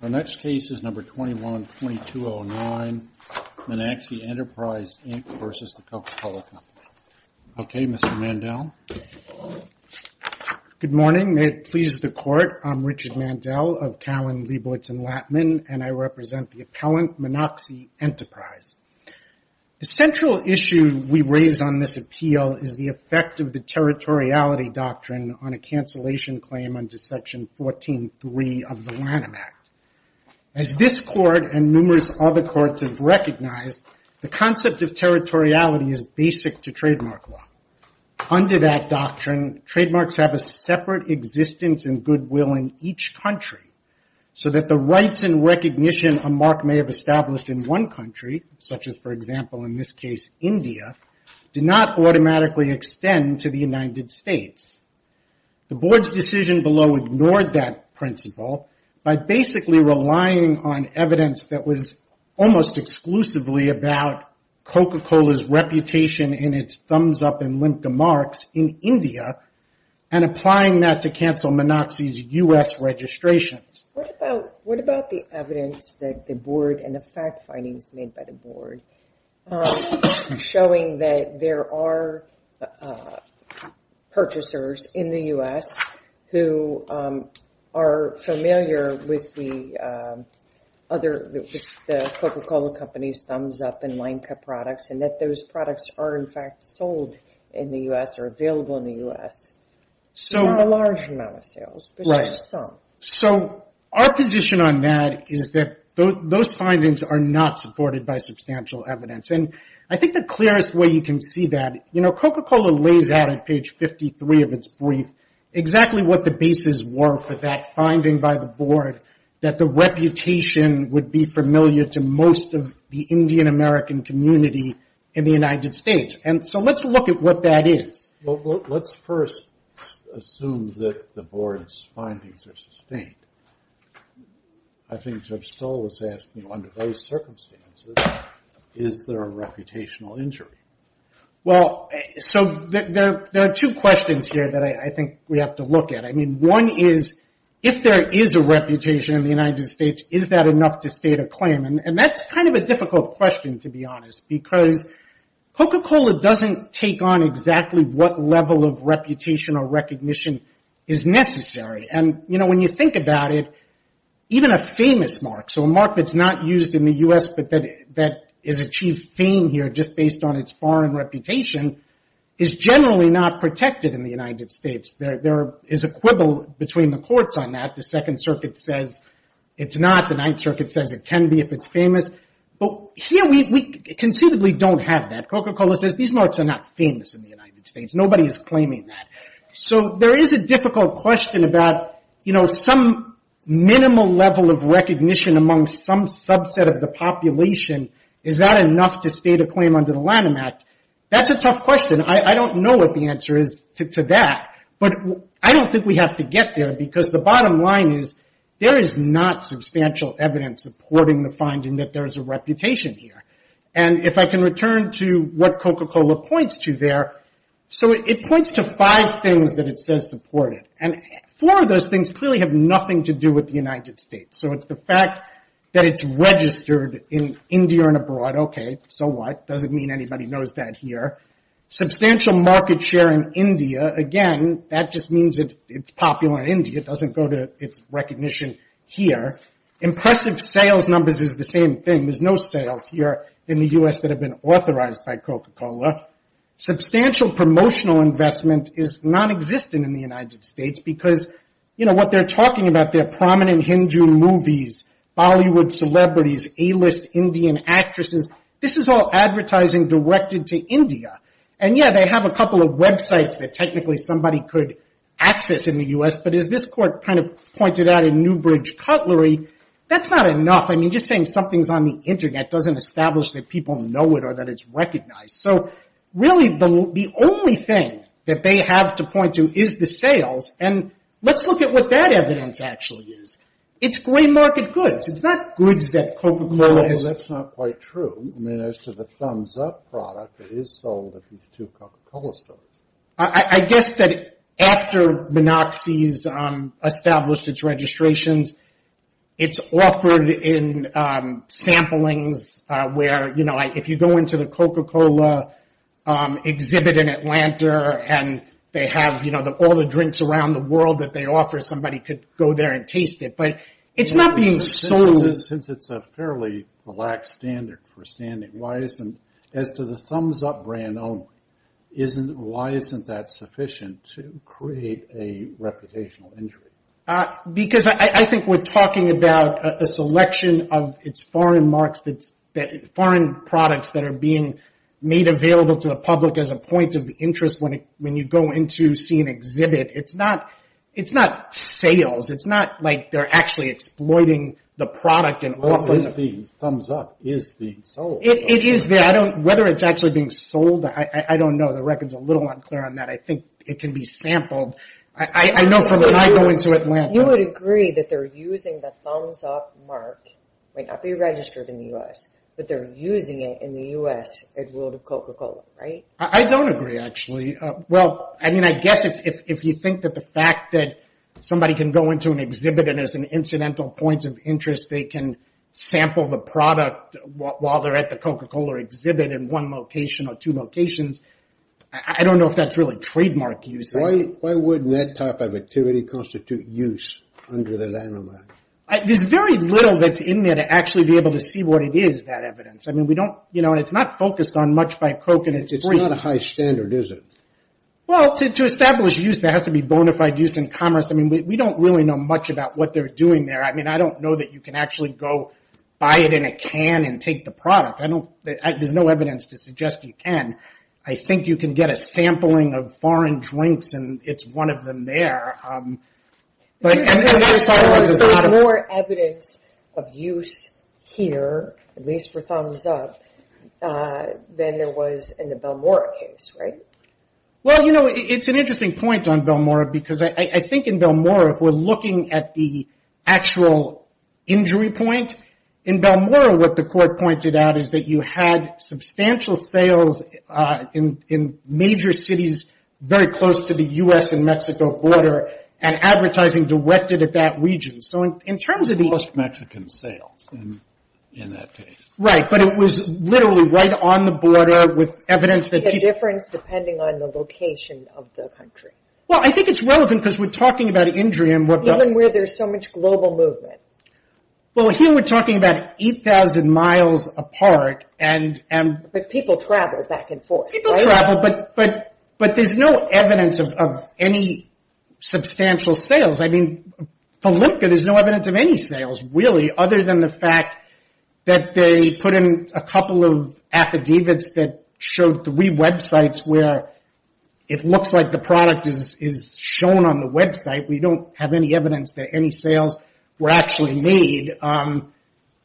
The next case is number 21-2209, Meenaxi Enterprise, Inc. v. The Coca-Cola Company. Okay, Mr. Mandel. Good morning. May it please the court, I'm Richard Mandel of Cowen, Leibowitz & Lattman, and I represent the appellant, Meenaxi Enterprise. The central issue we raise on this appeal is the effect of the territoriality doctrine on a cancellation claim under Section 14.3 of the Lanham Act. As this court and numerous other courts have recognized, the concept of territoriality is basic to trademark law. Under that doctrine, trademarks have a separate existence and goodwill in each country, so that the rights and recognition a mark may have established in one country, such as, for example, in this case, India, do not automatically extend to the United States. The board's decision below ignored that principle by basically relying on evidence that was almost exclusively about Coca-Cola's reputation in its thumbs-up and limp demarks in India and applying that to cancel Meenaxi's U.S. registrations. What about the evidence that the board and the fact findings made by the board showing that there are purchasers in the U.S. who are familiar with the Coca-Cola company's thumbs-up and line cut products and that those products are in fact sold in the U.S. or available in the U.S. So, our position on that is that those findings are not supported by substantial evidence. And I think the clearest way you can see that, you know, Coca-Cola lays out at page 53 of its brief exactly what the bases were for that finding by the board that the reputation would be familiar to most of the Indian American community in the United States. And so let's look at what that is. Well, let's first assume that the board's findings are sustained. I think Judge Stoll was asking, under those circumstances, is there a reputational injury? Well, so there are two questions here that I think we have to look at. I mean, one is, if there is a reputation in the United States, is that enough to state a claim? And that's kind of a difficult question, to be honest, because Coca-Cola doesn't take on exactly what level of reputational recognition is necessary. And, you know, when you think about it, even a famous mark, so a mark that's not used in the U.S. but that has achieved fame here just based on its foreign reputation, is generally not protected in the United States. There is a quibble between the courts on that. The Second Circuit says it's not. The Ninth Circuit says it can be if it's famous. But here, we conceivably don't have that. Coca-Cola says these marks are not famous in the United States. Nobody is claiming that. So there is a difficult question about, you know, some minimal level of recognition among some subset of the population. Is that enough to state a claim under the Lanham Act? That's a tough question. I don't know what the answer is to that. But I don't think we have to get there, because the bottom line is, there is not substantial evidence supporting the finding that there is a reputation here. And if I can return to what Coca-Cola points to there, so it points to five things that it says support it. And four of those things clearly have nothing to do with the United States. So it's the fact that it's registered in India and abroad. Okay, so what? Doesn't mean anybody knows that here. Substantial market share in India. Again, that just means it's popular in India. It doesn't go to its recognition here. Impressive sales numbers is the same thing. There's no sales here in the U.S. that have been authorized by Coca-Cola. Substantial promotional investment is nonexistent in the United States. Because, you know, what they're talking about, they're prominent Hindu movies, Bollywood celebrities, A-list Indian actresses. This is all advertising directed to India. And yeah, they have a couple of websites that technically somebody could access in the U.S. But as this court kind of pointed out in Newbridge Cutlery, that's not enough. I mean, just saying something's on the Internet doesn't establish that people know it or that it's recognized. So really, the only thing that they have to point to is the sales. And let's look at what that evidence actually is. It's gray market goods. It's not goods that Coca-Cola has... Well, that's not quite true. I mean, as to the thumbs-up product that is sold at these two Coca-Cola stores. I guess that after Minoxidil's established its registrations, it's offered in samplings where, you know, if you go into the Coca-Cola exhibit in Atlanta and they have, you know, all the drinks around the world that they offer, somebody could go there and taste it. But it's not being sold... Since it's a fairly relaxed standard for standing, why isn't... Why isn't that sufficient to create a reputational injury? Because I think we're talking about a selection of its foreign markets that... foreign products that are being made available to the public as a point of interest when you go in to see an exhibit. It's not... It's not sales. It's not like they're actually exploiting the product and offering... Well, it is being thumbs-up. It is being sold. It is being... I don't... Whether it's actually being sold, I don't know. The record's a little unclear on that. I think it can be sampled. I know from when I go into Atlanta... You would agree that they're using the thumbs-up mark, might not be registered in the U.S., but they're using it in the U.S. at World of Coca-Cola, right? I don't agree, actually. Well, I mean, I guess if you think that the fact that somebody can go into an exhibit and as an incidental point of interest, they can sample the product while they're at the Coca-Cola exhibit in one location or two locations, I don't know if that's really trademark use. Why wouldn't that type of activity constitute use under the landmark? There's very little that's in there to actually be able to see what it is, that evidence. I mean, we don't... You know, and it's not focused on much by Coke and it's free. It's not a high standard, is it? Well, to establish use, there has to be bona fide use in commerce. I mean, we don't really know much about what they're doing there. I mean, I don't know that you can actually go buy it in a can and take the product. There's no evidence to suggest you can. I think you can get a sampling of foreign drinks and it's one of them there. There's more evidence of use here, at least for thumbs up, than there was in the Balmora case, right? Well, you know, it's an interesting point on Balmora because I think in Balmora, if we're looking at the actual injury point, in Balmora, what the court pointed out is that you had substantial sales in major cities very close to the U.S. and Mexico border and advertising directed at that region. So in terms of... Most Mexican sales in that case. Right. But it was literally right on the border with evidence that people... The difference depending on the location of the country. Well, I think it's relevant because we're talking about injury and what... Even where there's so much global movement. Well, here we're talking about 8,000 miles apart and... But people travel back and forth, right? People travel, but there's no evidence of any substantial sales. I mean, for Lipka, there's no evidence of any sales, really, other than the fact that they put in a couple of affidavits that showed three websites where it looks like the product is shown on the website. We don't have any evidence that any sales were actually made.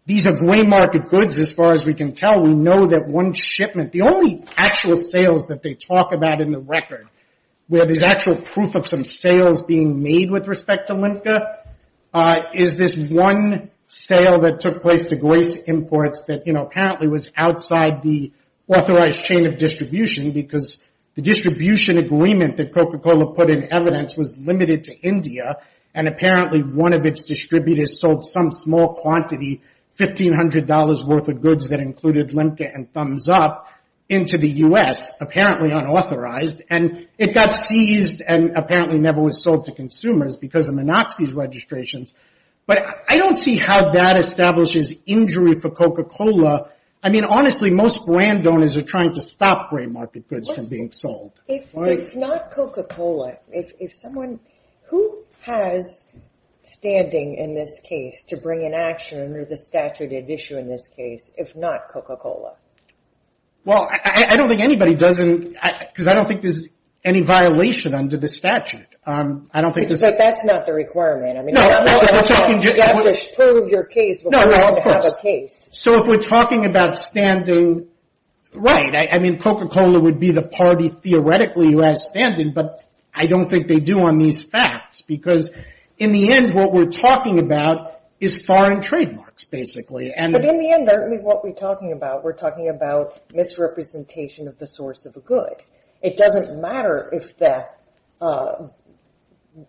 These are gray market goods, as far as we can tell. We know that one shipment... The only actual sales that they talk about in the record, where there's actual proof of some sales being made with respect to Lipka, is this one sale that took place to Grace Imports that apparently was outside the authorized chain of distribution because the distribution agreement that Coca-Cola put in was limited to India, and apparently one of its distributors sold some small quantity, $1,500 worth of goods that included Lipka and Thumbs Up into the U.S., apparently unauthorized, and it got seized and apparently never was sold to consumers because of Minoxidil registrations. But I don't see how that establishes injury for Coca-Cola. I mean, honestly, most brand owners are trying to stop gray market goods from being sold. If not Coca-Cola, if someone... Who has standing in this case to bring an action under the statute of issue in this case, if not Coca-Cola? Well, I don't think anybody doesn't... Because I don't think there's any violation under the statute. But that's not the requirement. I mean, you have to prove your case before you have to have a case. So if we're talking about standing... I mean, Coca-Cola would be the party theoretically who has standing, but I don't think they do on these facts because in the end, what we're talking about is foreign trademarks, basically. But in the end, what we're talking about, we're talking about misrepresentation of the source of a good. It doesn't matter if the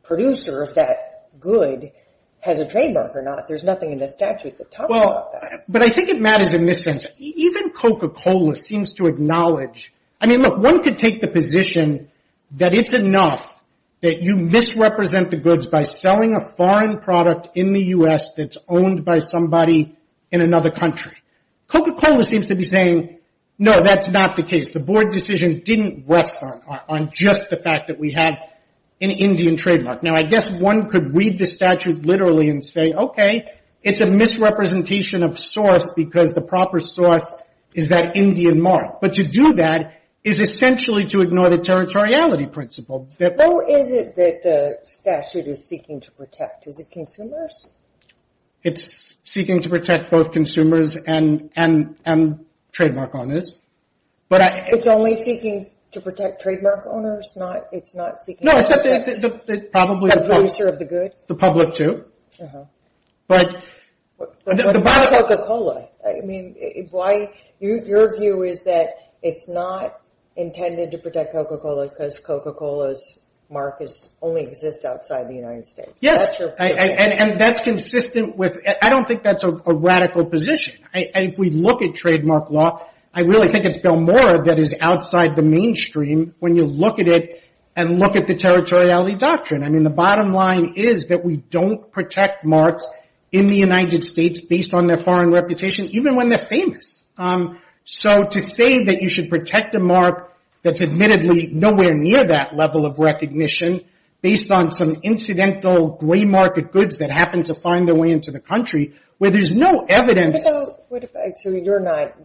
producer of that good has a trademark or not. There's nothing in the statute that talks about that. But I think it matters in this sense. Even Coca-Cola seems to acknowledge... I mean, look, one could take the position that it's enough that you misrepresent the goods by selling a foreign product in the US that's owned by somebody in another country. Coca-Cola seems to be saying, no, that's not the case. The board decision didn't rest on just the fact that we had an Indian trademark. Now, I guess one could read the statute literally and say, okay, it's a misrepresentation of source because the proper source is that Indian mark. But to do that is essentially to ignore the territoriality principle. How is it that the statute is seeking to protect? Is it consumers? It's seeking to protect both consumers and trademark owners. It's only seeking to protect trademark owners? It's not seeking... No, probably... The producer of the good? The public too. But the bottom... But Coca-Cola, I mean, your view is that it's not intended to protect Coca-Cola because Coca-Cola's mark only exists outside the United States. Yes, and that's consistent with... I don't think that's a radical position. If we look at trademark law, I really think it's Belmora that is outside the mainstream when you look at it and look at the territoriality doctrine. The bottom line is that we don't protect marks in the United States based on their foreign reputation, even when they're famous. To say that you should protect a mark that's admittedly nowhere near that level of recognition based on some incidental gray market goods that happen to find their way into the country, where there's no evidence... You're not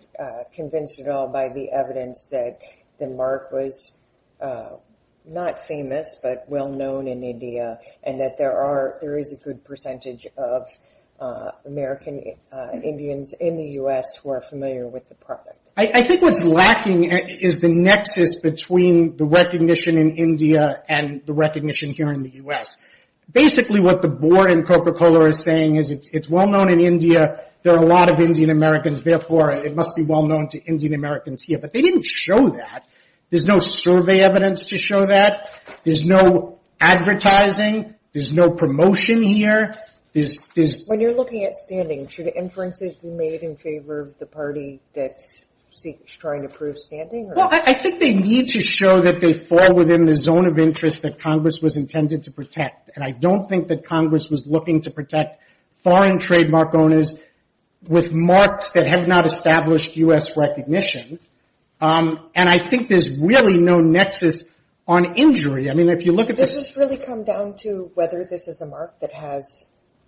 convinced at all by the evidence that the mark was not famous, but well-known in India and that there is a good percentage of American Indians in the U.S. who are familiar with the product. I think what's lacking is the nexus between the recognition in India and the recognition here in the U.S. Basically, what the board in Coca-Cola is saying is it's well-known in India. There are a lot of Indian Americans. Therefore, it must be well-known to Indian Americans here. But they didn't show that. There's no survey evidence to show that. There's no advertising. There's no promotion here. When you're looking at standing, should inferences be made in favor of the party that's trying to prove standing? Well, I think they need to show that they fall within the zone of interest that Congress was intended to protect. And I don't think that Congress was looking to protect foreign trademark owners with marks that have not established U.S. recognition. And I think there's really no nexus on injury. I mean, if you look at this— This has really come down to whether this is a mark that has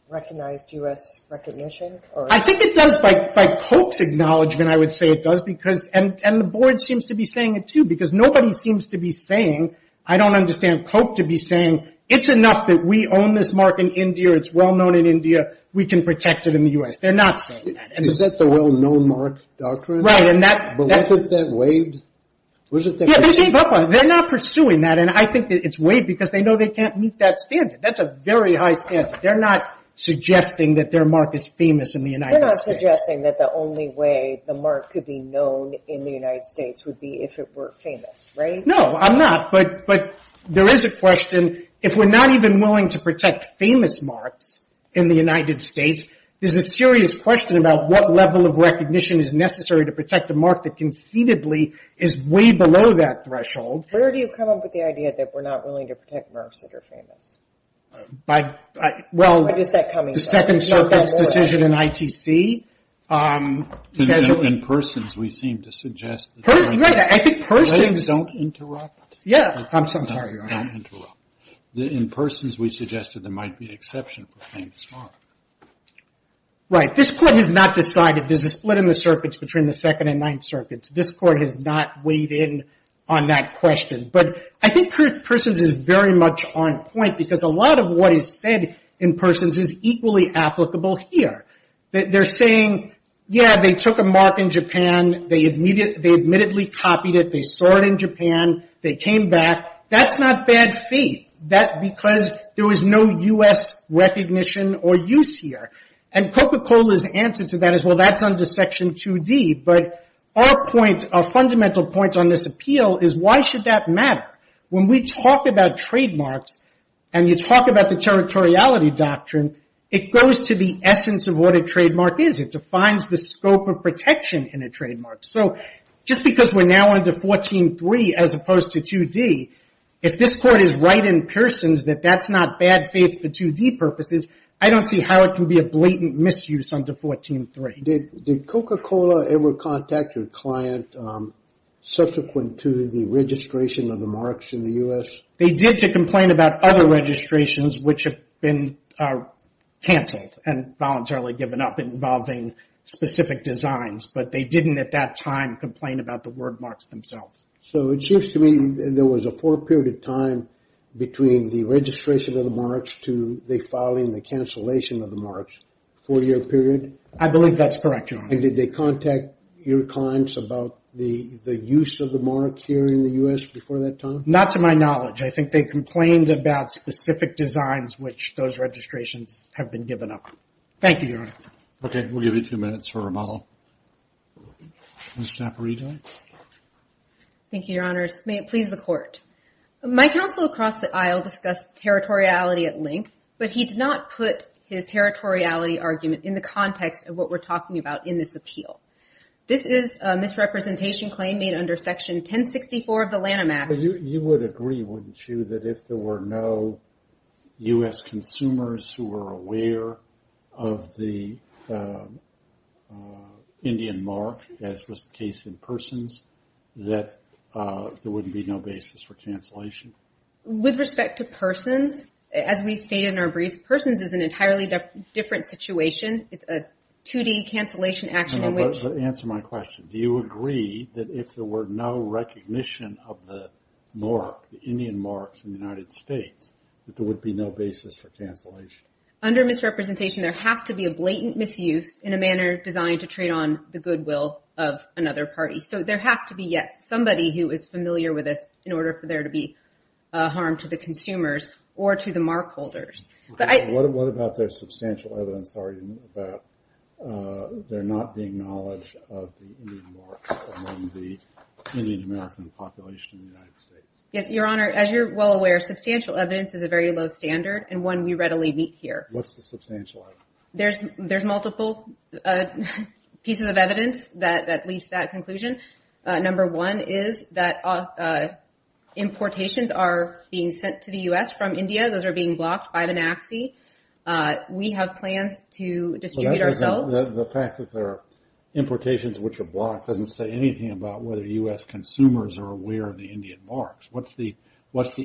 recognized U.S. recognition or— I think it does, by Coke's acknowledgement, I would say it does. And the board seems to be saying it, too, because nobody seems to be saying— I don't understand Coke to be saying, it's enough that we own this mark in India. It's well-known in India. We can protect it in the U.S. They're not saying that. Is that the well-known mark doctrine? Right, and that— But wasn't that waived? Yeah, they're not pursuing that. And I think it's waived because they know they can't meet that standard. That's a very high standard. They're not suggesting that their mark is famous in the United States. They're not suggesting that the only way the mark could be known in the United States would be if it were famous, right? No, I'm not. But there is a question, if we're not even willing to protect famous marks in the United States, there's a serious question about what level of recognition is necessary to protect a mark that conceivably is way below that threshold. Where do you come up with the idea that we're not willing to protect marks that are famous? Well, the Second Circumstance Decision in ITC says that— In persons, we seem to suggest that— Right, I think persons— Don't interrupt. Yeah, I'm sorry, Your Honor. Don't interrupt. In persons, we suggested there might be an exception for famous mark. Right. This Court has not decided. There's a split in the circuits between the Second and Ninth Circuits. This Court has not weighed in on that question. But I think persons is very much on point because a lot of what is said in persons is equally applicable here. They're saying, yeah, they took a mark in Japan. They admittedly copied it. They saw it in Japan. They came back. That's not bad faith. That's because there was no U.S. recognition or use here. Coca-Cola's answer to that is, well, that's under Section 2D. But our fundamental point on this appeal is, why should that matter? When we talk about trademarks and you talk about the territoriality doctrine, it goes to the essence of what a trademark is. It defines the scope of protection in a trademark. So just because we're now under 14-3 as opposed to 2D, if this Court is right in persons that that's not bad faith for 2D purposes, I don't see how it can be a blatant misuse under 14-3. Did Coca-Cola ever contact your client subsequent to the registration of the marks in the U.S.? They did to complain about other registrations which have been canceled and voluntarily given up involving specific designs. But they didn't at that time complain about the word marks themselves. So it seems to me there was a four-period time between the registration of the marks to the filing, the cancellation of the marks, four-year period. I believe that's correct, Your Honor. And did they contact your clients about the use of the mark here in the U.S. before that time? Not to my knowledge. I think they complained about specific designs which those registrations have been given up. Thank you, Your Honor. Okay, we'll give you two minutes for remodel. Thank you, Your Honors. May it please the Court. My counsel across the aisle discussed territoriality at length, but he did not put his territoriality argument in the context of what we're talking about in this appeal. This is a misrepresentation claim made under Section 1064 of the Lanham Act. You would agree, wouldn't you, that if there were no U.S. consumers who were aware of the Indian mark, as was the case in Persons, that there wouldn't be no basis for cancellation? With respect to Persons, as we stated in our brief, Persons is an entirely different situation. It's a 2D cancellation action in which... Answer my question. Do you agree that if there were no recognition of the mark, the Indian marks in the United States, that there would be no basis for cancellation? Under misrepresentation, there has to be a blatant misuse in a manner designed to trade on the goodwill of another party. So there has to be, yes, somebody who is familiar with this in order for there to be harm to the consumers or to the mark holders. What about their substantial evidence argument about there not being knowledge of the Indian marks among the Indian American population in the United States? Yes, Your Honor, as you're well aware, substantial evidence is a very low standard and one we readily meet here. What's the substantial evidence? There's multiple pieces of evidence that leads to that conclusion. Number one is that importations are being sent to the U.S. from India. Those are being blocked by the NAAXI. We have plans to distribute ourselves. The fact that there are importations which are blocked doesn't say anything about whether U.S. consumers are aware of the Indian marks. What's the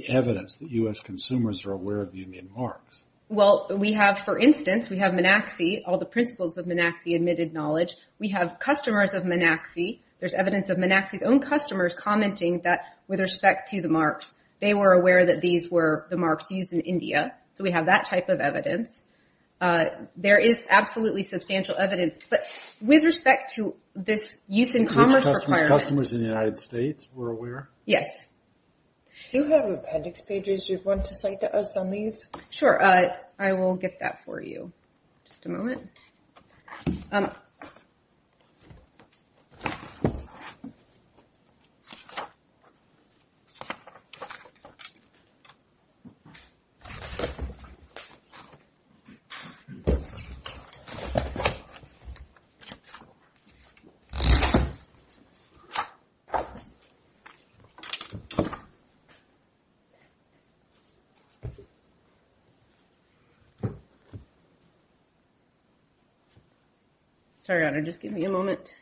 evidence that U.S. consumers are aware of Well, we have, for instance, we have NAAXI, all the principles of NAAXI admitted knowledge. We have customers of NAAXI. There's evidence of NAAXI's own customers commenting that with respect to the marks, they were aware that these were the marks used in India. So we have that type of evidence. There is absolutely substantial evidence. But with respect to this use in commerce requirement. Customers in the United States were aware? Yes. Do you have appendix pages you'd want to cite to us on these? Sure. I will get that for you. Just a moment. Sorry, just give me a moment.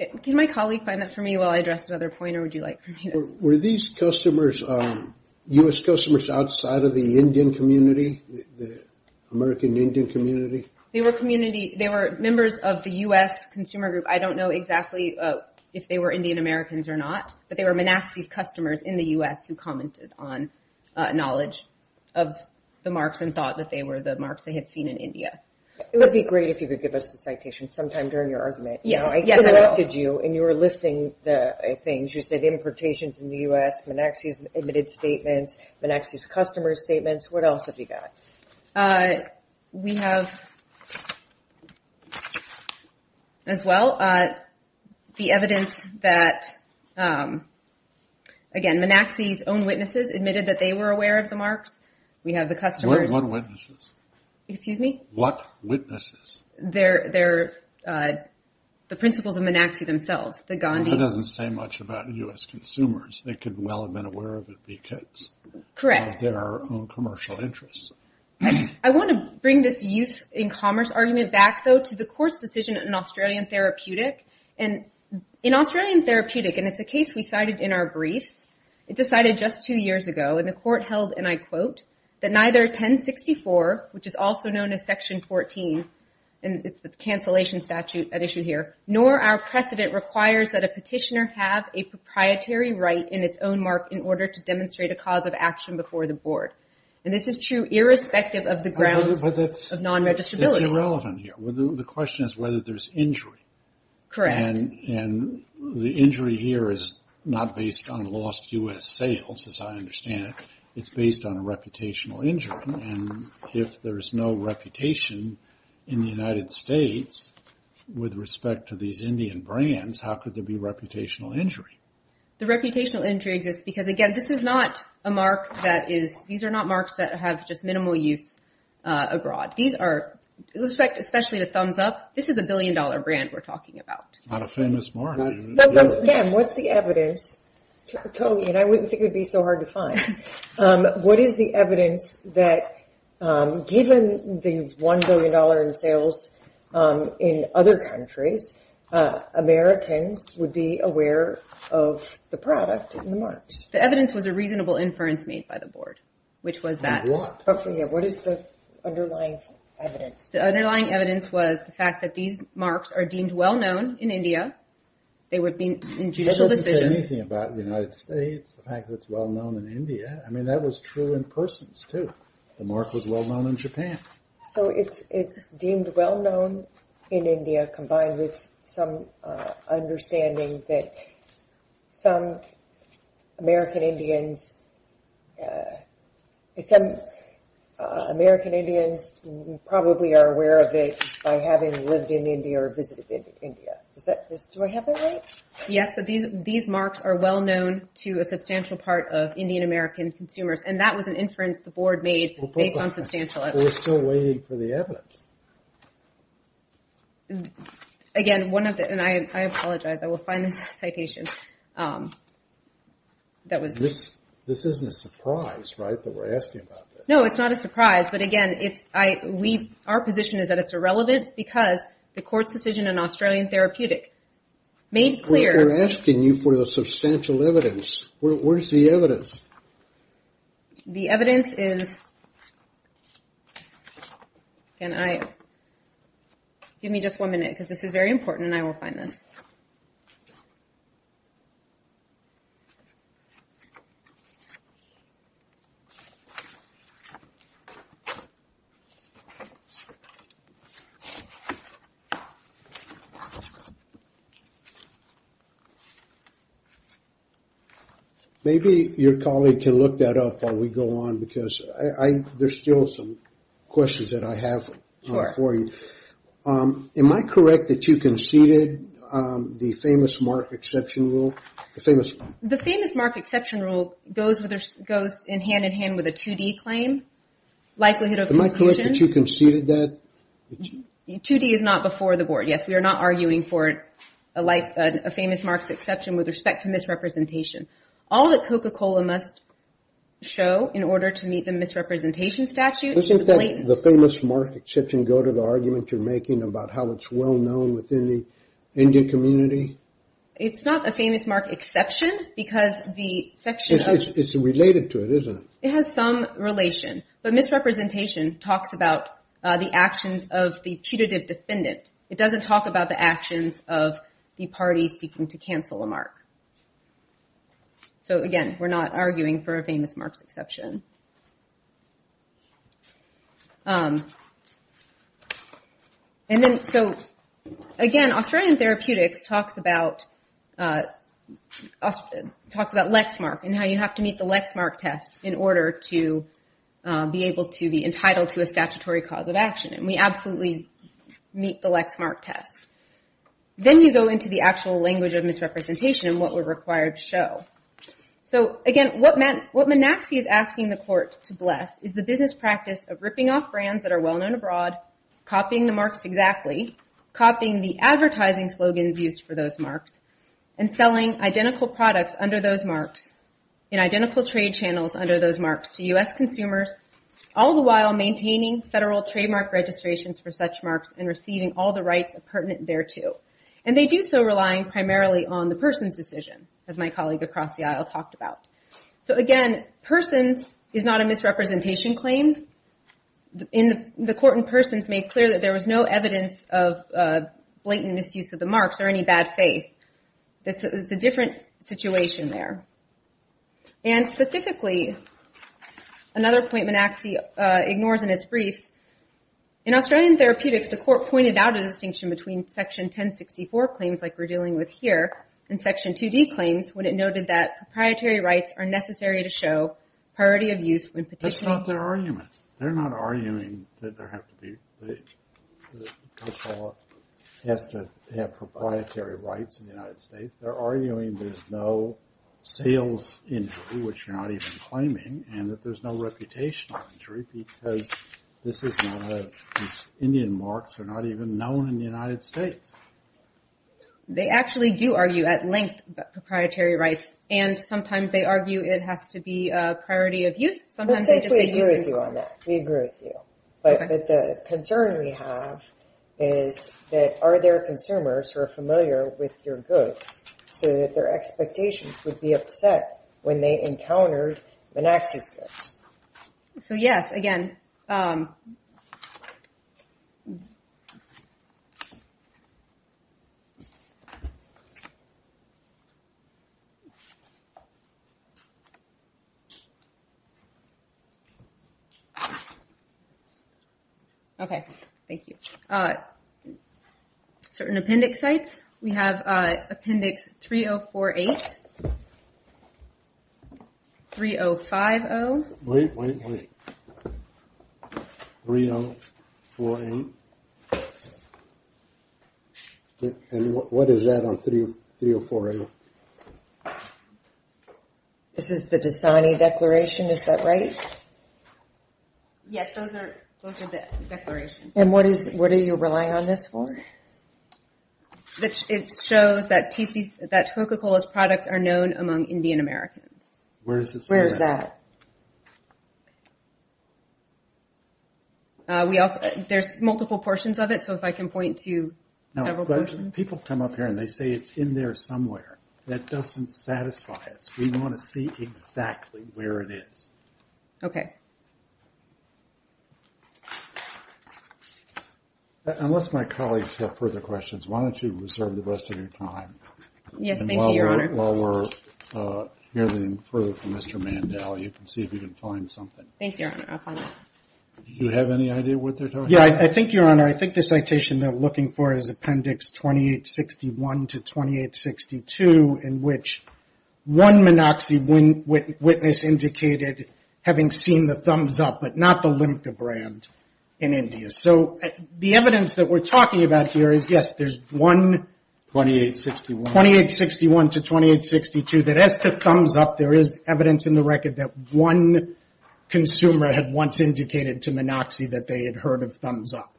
Okay. Can my colleague find that for me while I address another point or would you like for me to Were these customers, U.S. customers outside of the Indian community, the American Indian community? They were community. They were members of the U.S. consumer group. I don't know exactly if they were Indian Americans or not, but they were NAAXI's customers in the U.S. who commented on knowledge of the marks and thought that they were the marks they had seen in India. It would be great if you could give us the citation sometime during your argument. Yes, I will. I interrupted you and you were listing the things. You said importations in the U.S., NAAXI's admitted statements, NAAXI's customer statements. What else have you got? We have, as well, the evidence that, again, NAAXI's own witnesses admitted that they were aware of the marks. We have the customers. What witnesses? Excuse me? What witnesses? The principals of NAAXI themselves, the Gandhi. That doesn't say much about U.S. consumers. They could well have been aware of it because Correct. They're our own commercial interests. I want to bring this use in commerce argument back, though, to the court's decision in Australian Therapeutic. In Australian Therapeutic, and it's a case we cited in our briefs, it decided just two years ago, and the court held, and I quote, that neither 1064, which is also known as Section 14, and it's the cancellation statute at issue here, nor our precedent requires that a petitioner have a proprietary right in its own mark in order to demonstrate a cause of action before the board. This is true irrespective of the grounds of non-registrability. But it's irrelevant here. The question is whether there's injury. Correct. And the injury here is not based on lost U.S. sales, as I understand it. It's based on a reputational injury, and if there's no reputation in the United States with respect to these Indian brands, how could there be reputational injury? The reputational injury exists because, again, this is not a mark that is, these are not marks that have just minimal use abroad. These are, especially the Thumbs Up, this is a billion-dollar brand we're talking about. Not a famous mark. Again, what's the evidence? Totally, and I wouldn't think it would be so hard to find. What is the evidence that, given the $1 billion in sales in other countries, Americans would be aware of the product and the marks? The evidence was a reasonable inference made by the board, which was that. And blocked. But for you, what is the underlying evidence? The underlying evidence was the fact that these marks are deemed well-known in India. They would be in judicial decisions. That doesn't say anything about the United States, the fact that it's well-known in India. I mean, that was true in persons, too. The mark was well-known in Japan. So it's deemed well-known in India, combined with some understanding that some American Indians, some American Indians probably are aware of it by having lived in India or visited India. Do I have that right? Yes, but these marks are well-known to a substantial part of Indian-American consumers, and that was an inference the board made based on substantial evidence. We're still waiting for the evidence. Again, one of the, and I apologize, I will find this citation. This isn't a surprise, right, that we're asking about this? No, it's not a surprise. But again, our position is that it's irrelevant because the court's decision in Australian Therapeutic made clear... We're asking you for the substantial evidence. Where's the evidence? The evidence is... Can I... Give me just one minute, because this is very important, and I will find this. Okay. Maybe your colleague can look that up while we go on, because there's still some questions that I have for you. Am I correct that you conceded the famous mark exception rule? The famous mark exception rule goes in hand-in-hand with a 2D claim, likelihood of... Am I correct that you conceded that? 2D is not before the board, yes. We are not arguing for a famous mark exception with respect to misrepresentation. All that Coca-Cola must show in order to meet the misrepresentation statute... The famous mark exception go to the argument you're making about how it's well-known within the Indian community? It's not a famous mark exception because the section of... It's related to it, isn't it? It has some relation, but misrepresentation talks about the actions of the putative defendant. It doesn't talk about the actions of the party seeking to cancel a mark. So again, we're not arguing for a famous marks exception. Again, Australian Therapeutics talks about Lexmark and how you have to meet the Lexmark test in order to be able to be entitled to a statutory cause of action, and we absolutely meet the Lexmark test. Then you go into the actual language of misrepresentation and what we're required to show. So again, what Menaxi is asking the court to bless is the business practice of ripping off brands that are well-known abroad, copying the marks exactly, copying the advertising slogans used for those marks, and selling identical products under those marks in identical trade channels under those marks to U.S. consumers, all the while maintaining federal trademark registrations for such marks and receiving all the rights pertinent thereto. And they do so relying primarily on the person's decision, as my colleague across the aisle talked about. So again, persons is not a misrepresentation claim. The court in persons made clear that there was no evidence of blatant misuse of the marks or any bad faith. This is a different situation there. And specifically, another point Menaxi ignores in its briefs, in Australian Therapeutics, the court pointed out a distinction between Section 1064 claims like we're dealing with are necessary to show priority of use when petitioning. That's not their argument. They're not arguing that there have to be, that COPA has to have proprietary rights in the United States. They're arguing there's no sales injury, which you're not even claiming, and that there's no reputational injury, because this is not a, Indian marks are not even known in the United States. They actually do argue at length about proprietary rights, and sometimes they argue it has to be a priority of use. Sometimes they just say use it for- I think we agree with you on that. We agree with you. Okay. But the concern we have is that are there consumers who are familiar with your goods so that their expectations would be upset when they encountered Menaxi's goods? So, yes. Again. Okay. Thank you. Certain appendix sites, we have appendix 3048, 3050- Wait, wait, wait. 3048. And what is that on 3048? This is the Dasani declaration. Is that right? Yes, those are the declarations. And what are you relying on this for? It shows that Toca-Cola's products are known among Indian Americans. Where does it say that? Where is that? There's multiple portions of it, so if I can point to several portions. People come up here and they say it's in there somewhere. That doesn't satisfy us. We want to see exactly where it is. Okay. Thank you. Unless my colleagues have further questions, why don't you reserve the rest of your time? Yes, thank you, Your Honor. While we're hearing further from Mr. Mandel, you can see if you can find something. Thank you, Your Honor. I'll find it. Do you have any idea what they're talking about? Yeah, I think, Your Honor, I think the citation they're looking for is appendix 2861 to 2862, in which one Minoxi witness indicated having seen the Thumbs Up, but not the Limca brand in India. So the evidence that we're talking about here is, yes, there's one 2861 to 2862, that as to Thumbs Up, there is evidence in the record that one consumer had once indicated to Minoxi that they had heard of Thumbs Up.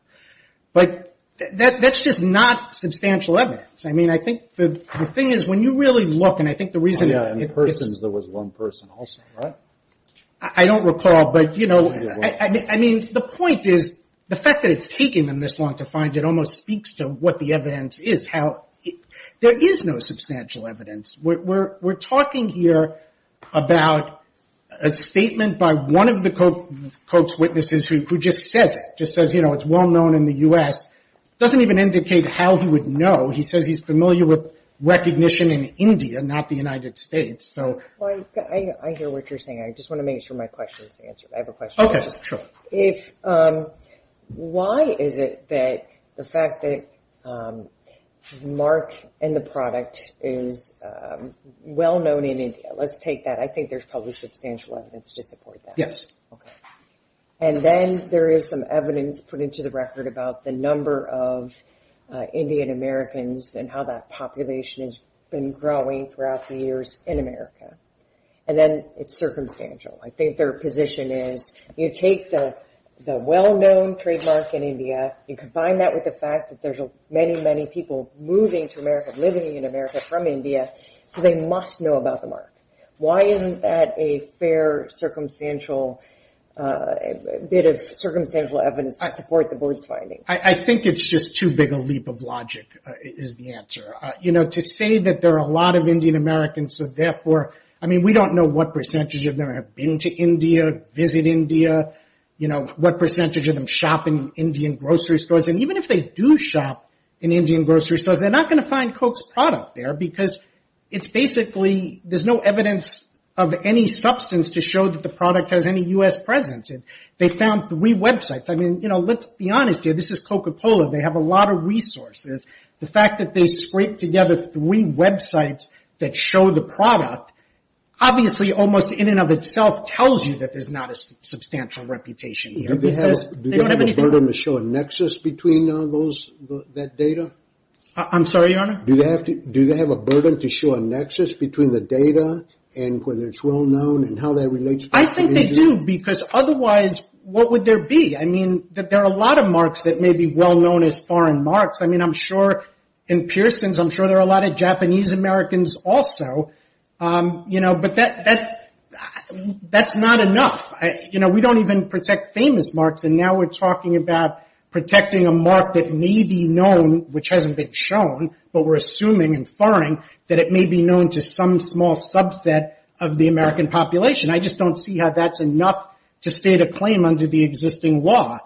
But that's just not substantial evidence. I think the thing is, when you really look, and I think the reason... Oh, yeah, in persons, there was one person also, right? I don't recall, but the point is, the fact that it's taking them this long to find, it almost speaks to what the evidence is, how there is no substantial evidence. We're talking here about a statement by one of the Koch's witnesses who just says it, just says it's well known in the U.S., doesn't even indicate how he would know. He says he's familiar with recognition in India, not the United States, so... Well, I hear what you're saying. I just want to make sure my question is answered. I have a question. Okay, sure. Why is it that the fact that March and the product is well known in India? Let's take that. I think there's probably substantial evidence to support that. Yes. And then there is some evidence put into the record about the number of Indian-Americans and how that population has been growing throughout the years in America. And then it's circumstantial. I think their position is, you take the well-known trademark in India, you combine that with the fact that there's many, many people moving to America, living in America from India, so they must know about the mark. Why isn't that a fair bit of circumstantial evidence to support the board's finding? I think it's just too big a leap of logic is the answer. To say that there are a lot of Indian-Americans, so therefore... I mean, we don't know what percentage of them have been to India, visit India, what percentage of them shop in Indian grocery stores. And even if they do shop in Indian grocery stores, they're not going to find Coke's product there, because it's basically... There's no evidence of any substance to show that the product has any U.S. presence. They found three websites. Let's be honest here. This is Coca-Cola. They have a lot of resources. The fact that they scraped together three websites that show the product, obviously, almost in and of itself tells you that there's not a substantial reputation here. Do they have a burden to show a nexus between that data? I'm sorry, Your Honor? Do they have a burden to show a nexus between the data and whether it's well-known and how that relates to India? I think they do, because otherwise, what would there be? There are a lot of marks that may be well-known as foreign marks. In Pearson's, I'm sure there are a lot of Japanese-Americans also. But that's not enough. We don't even protect famous marks. And now we're talking about protecting a mark that may be known, which hasn't been shown, but we're assuming and firing that it may be known to some small subset of the American population. I just don't see how that's enough to state a claim under the existing law.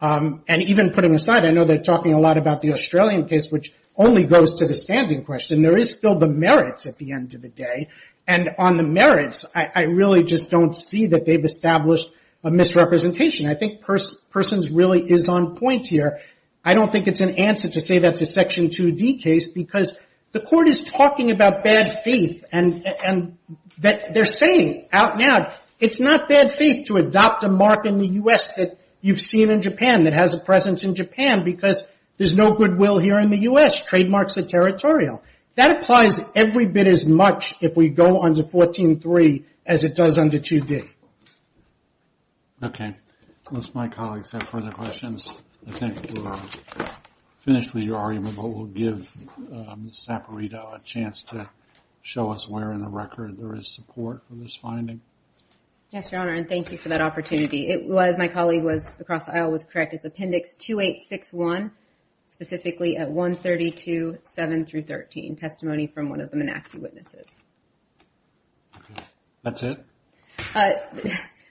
And even putting aside, I know they're talking a lot about the Australian case, which only goes to the standing question. There is still the merits at the end of the day. And on the merits, I really just don't see that they've established a misrepresentation. I think Pearson's really is on point here. I don't think it's an answer to say that's a Section 2D case, because the court is talking about bad faith. And they're saying out loud, it's not bad faith to adopt a mark in the U.S. that you've seen in Japan, that has a presence in Japan, because there's no goodwill here in the U.S. Trademarks are territorial. That applies every bit as much if we go on to 14.3 as it does under 2D. Okay. Unless my colleagues have further questions, I think we're finished with your argument, but we'll give Ms. Saperito a chance to show us where in the record there is support for this finding. Yes, Your Honor, and thank you for that opportunity. It was, my colleague was, across the aisle was correct. It's Appendix 2861, specifically at 132.7-13, testimony from one of the Menaxi witnesses. Okay. That's it?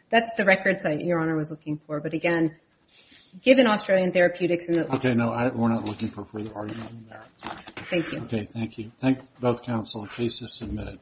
That's the record site Your Honor was looking for. But again, given Australian therapeutics... Okay, no, we're not looking for further argument in there. Thank you. Okay, thank you. Thank both counsel. The case is submitted.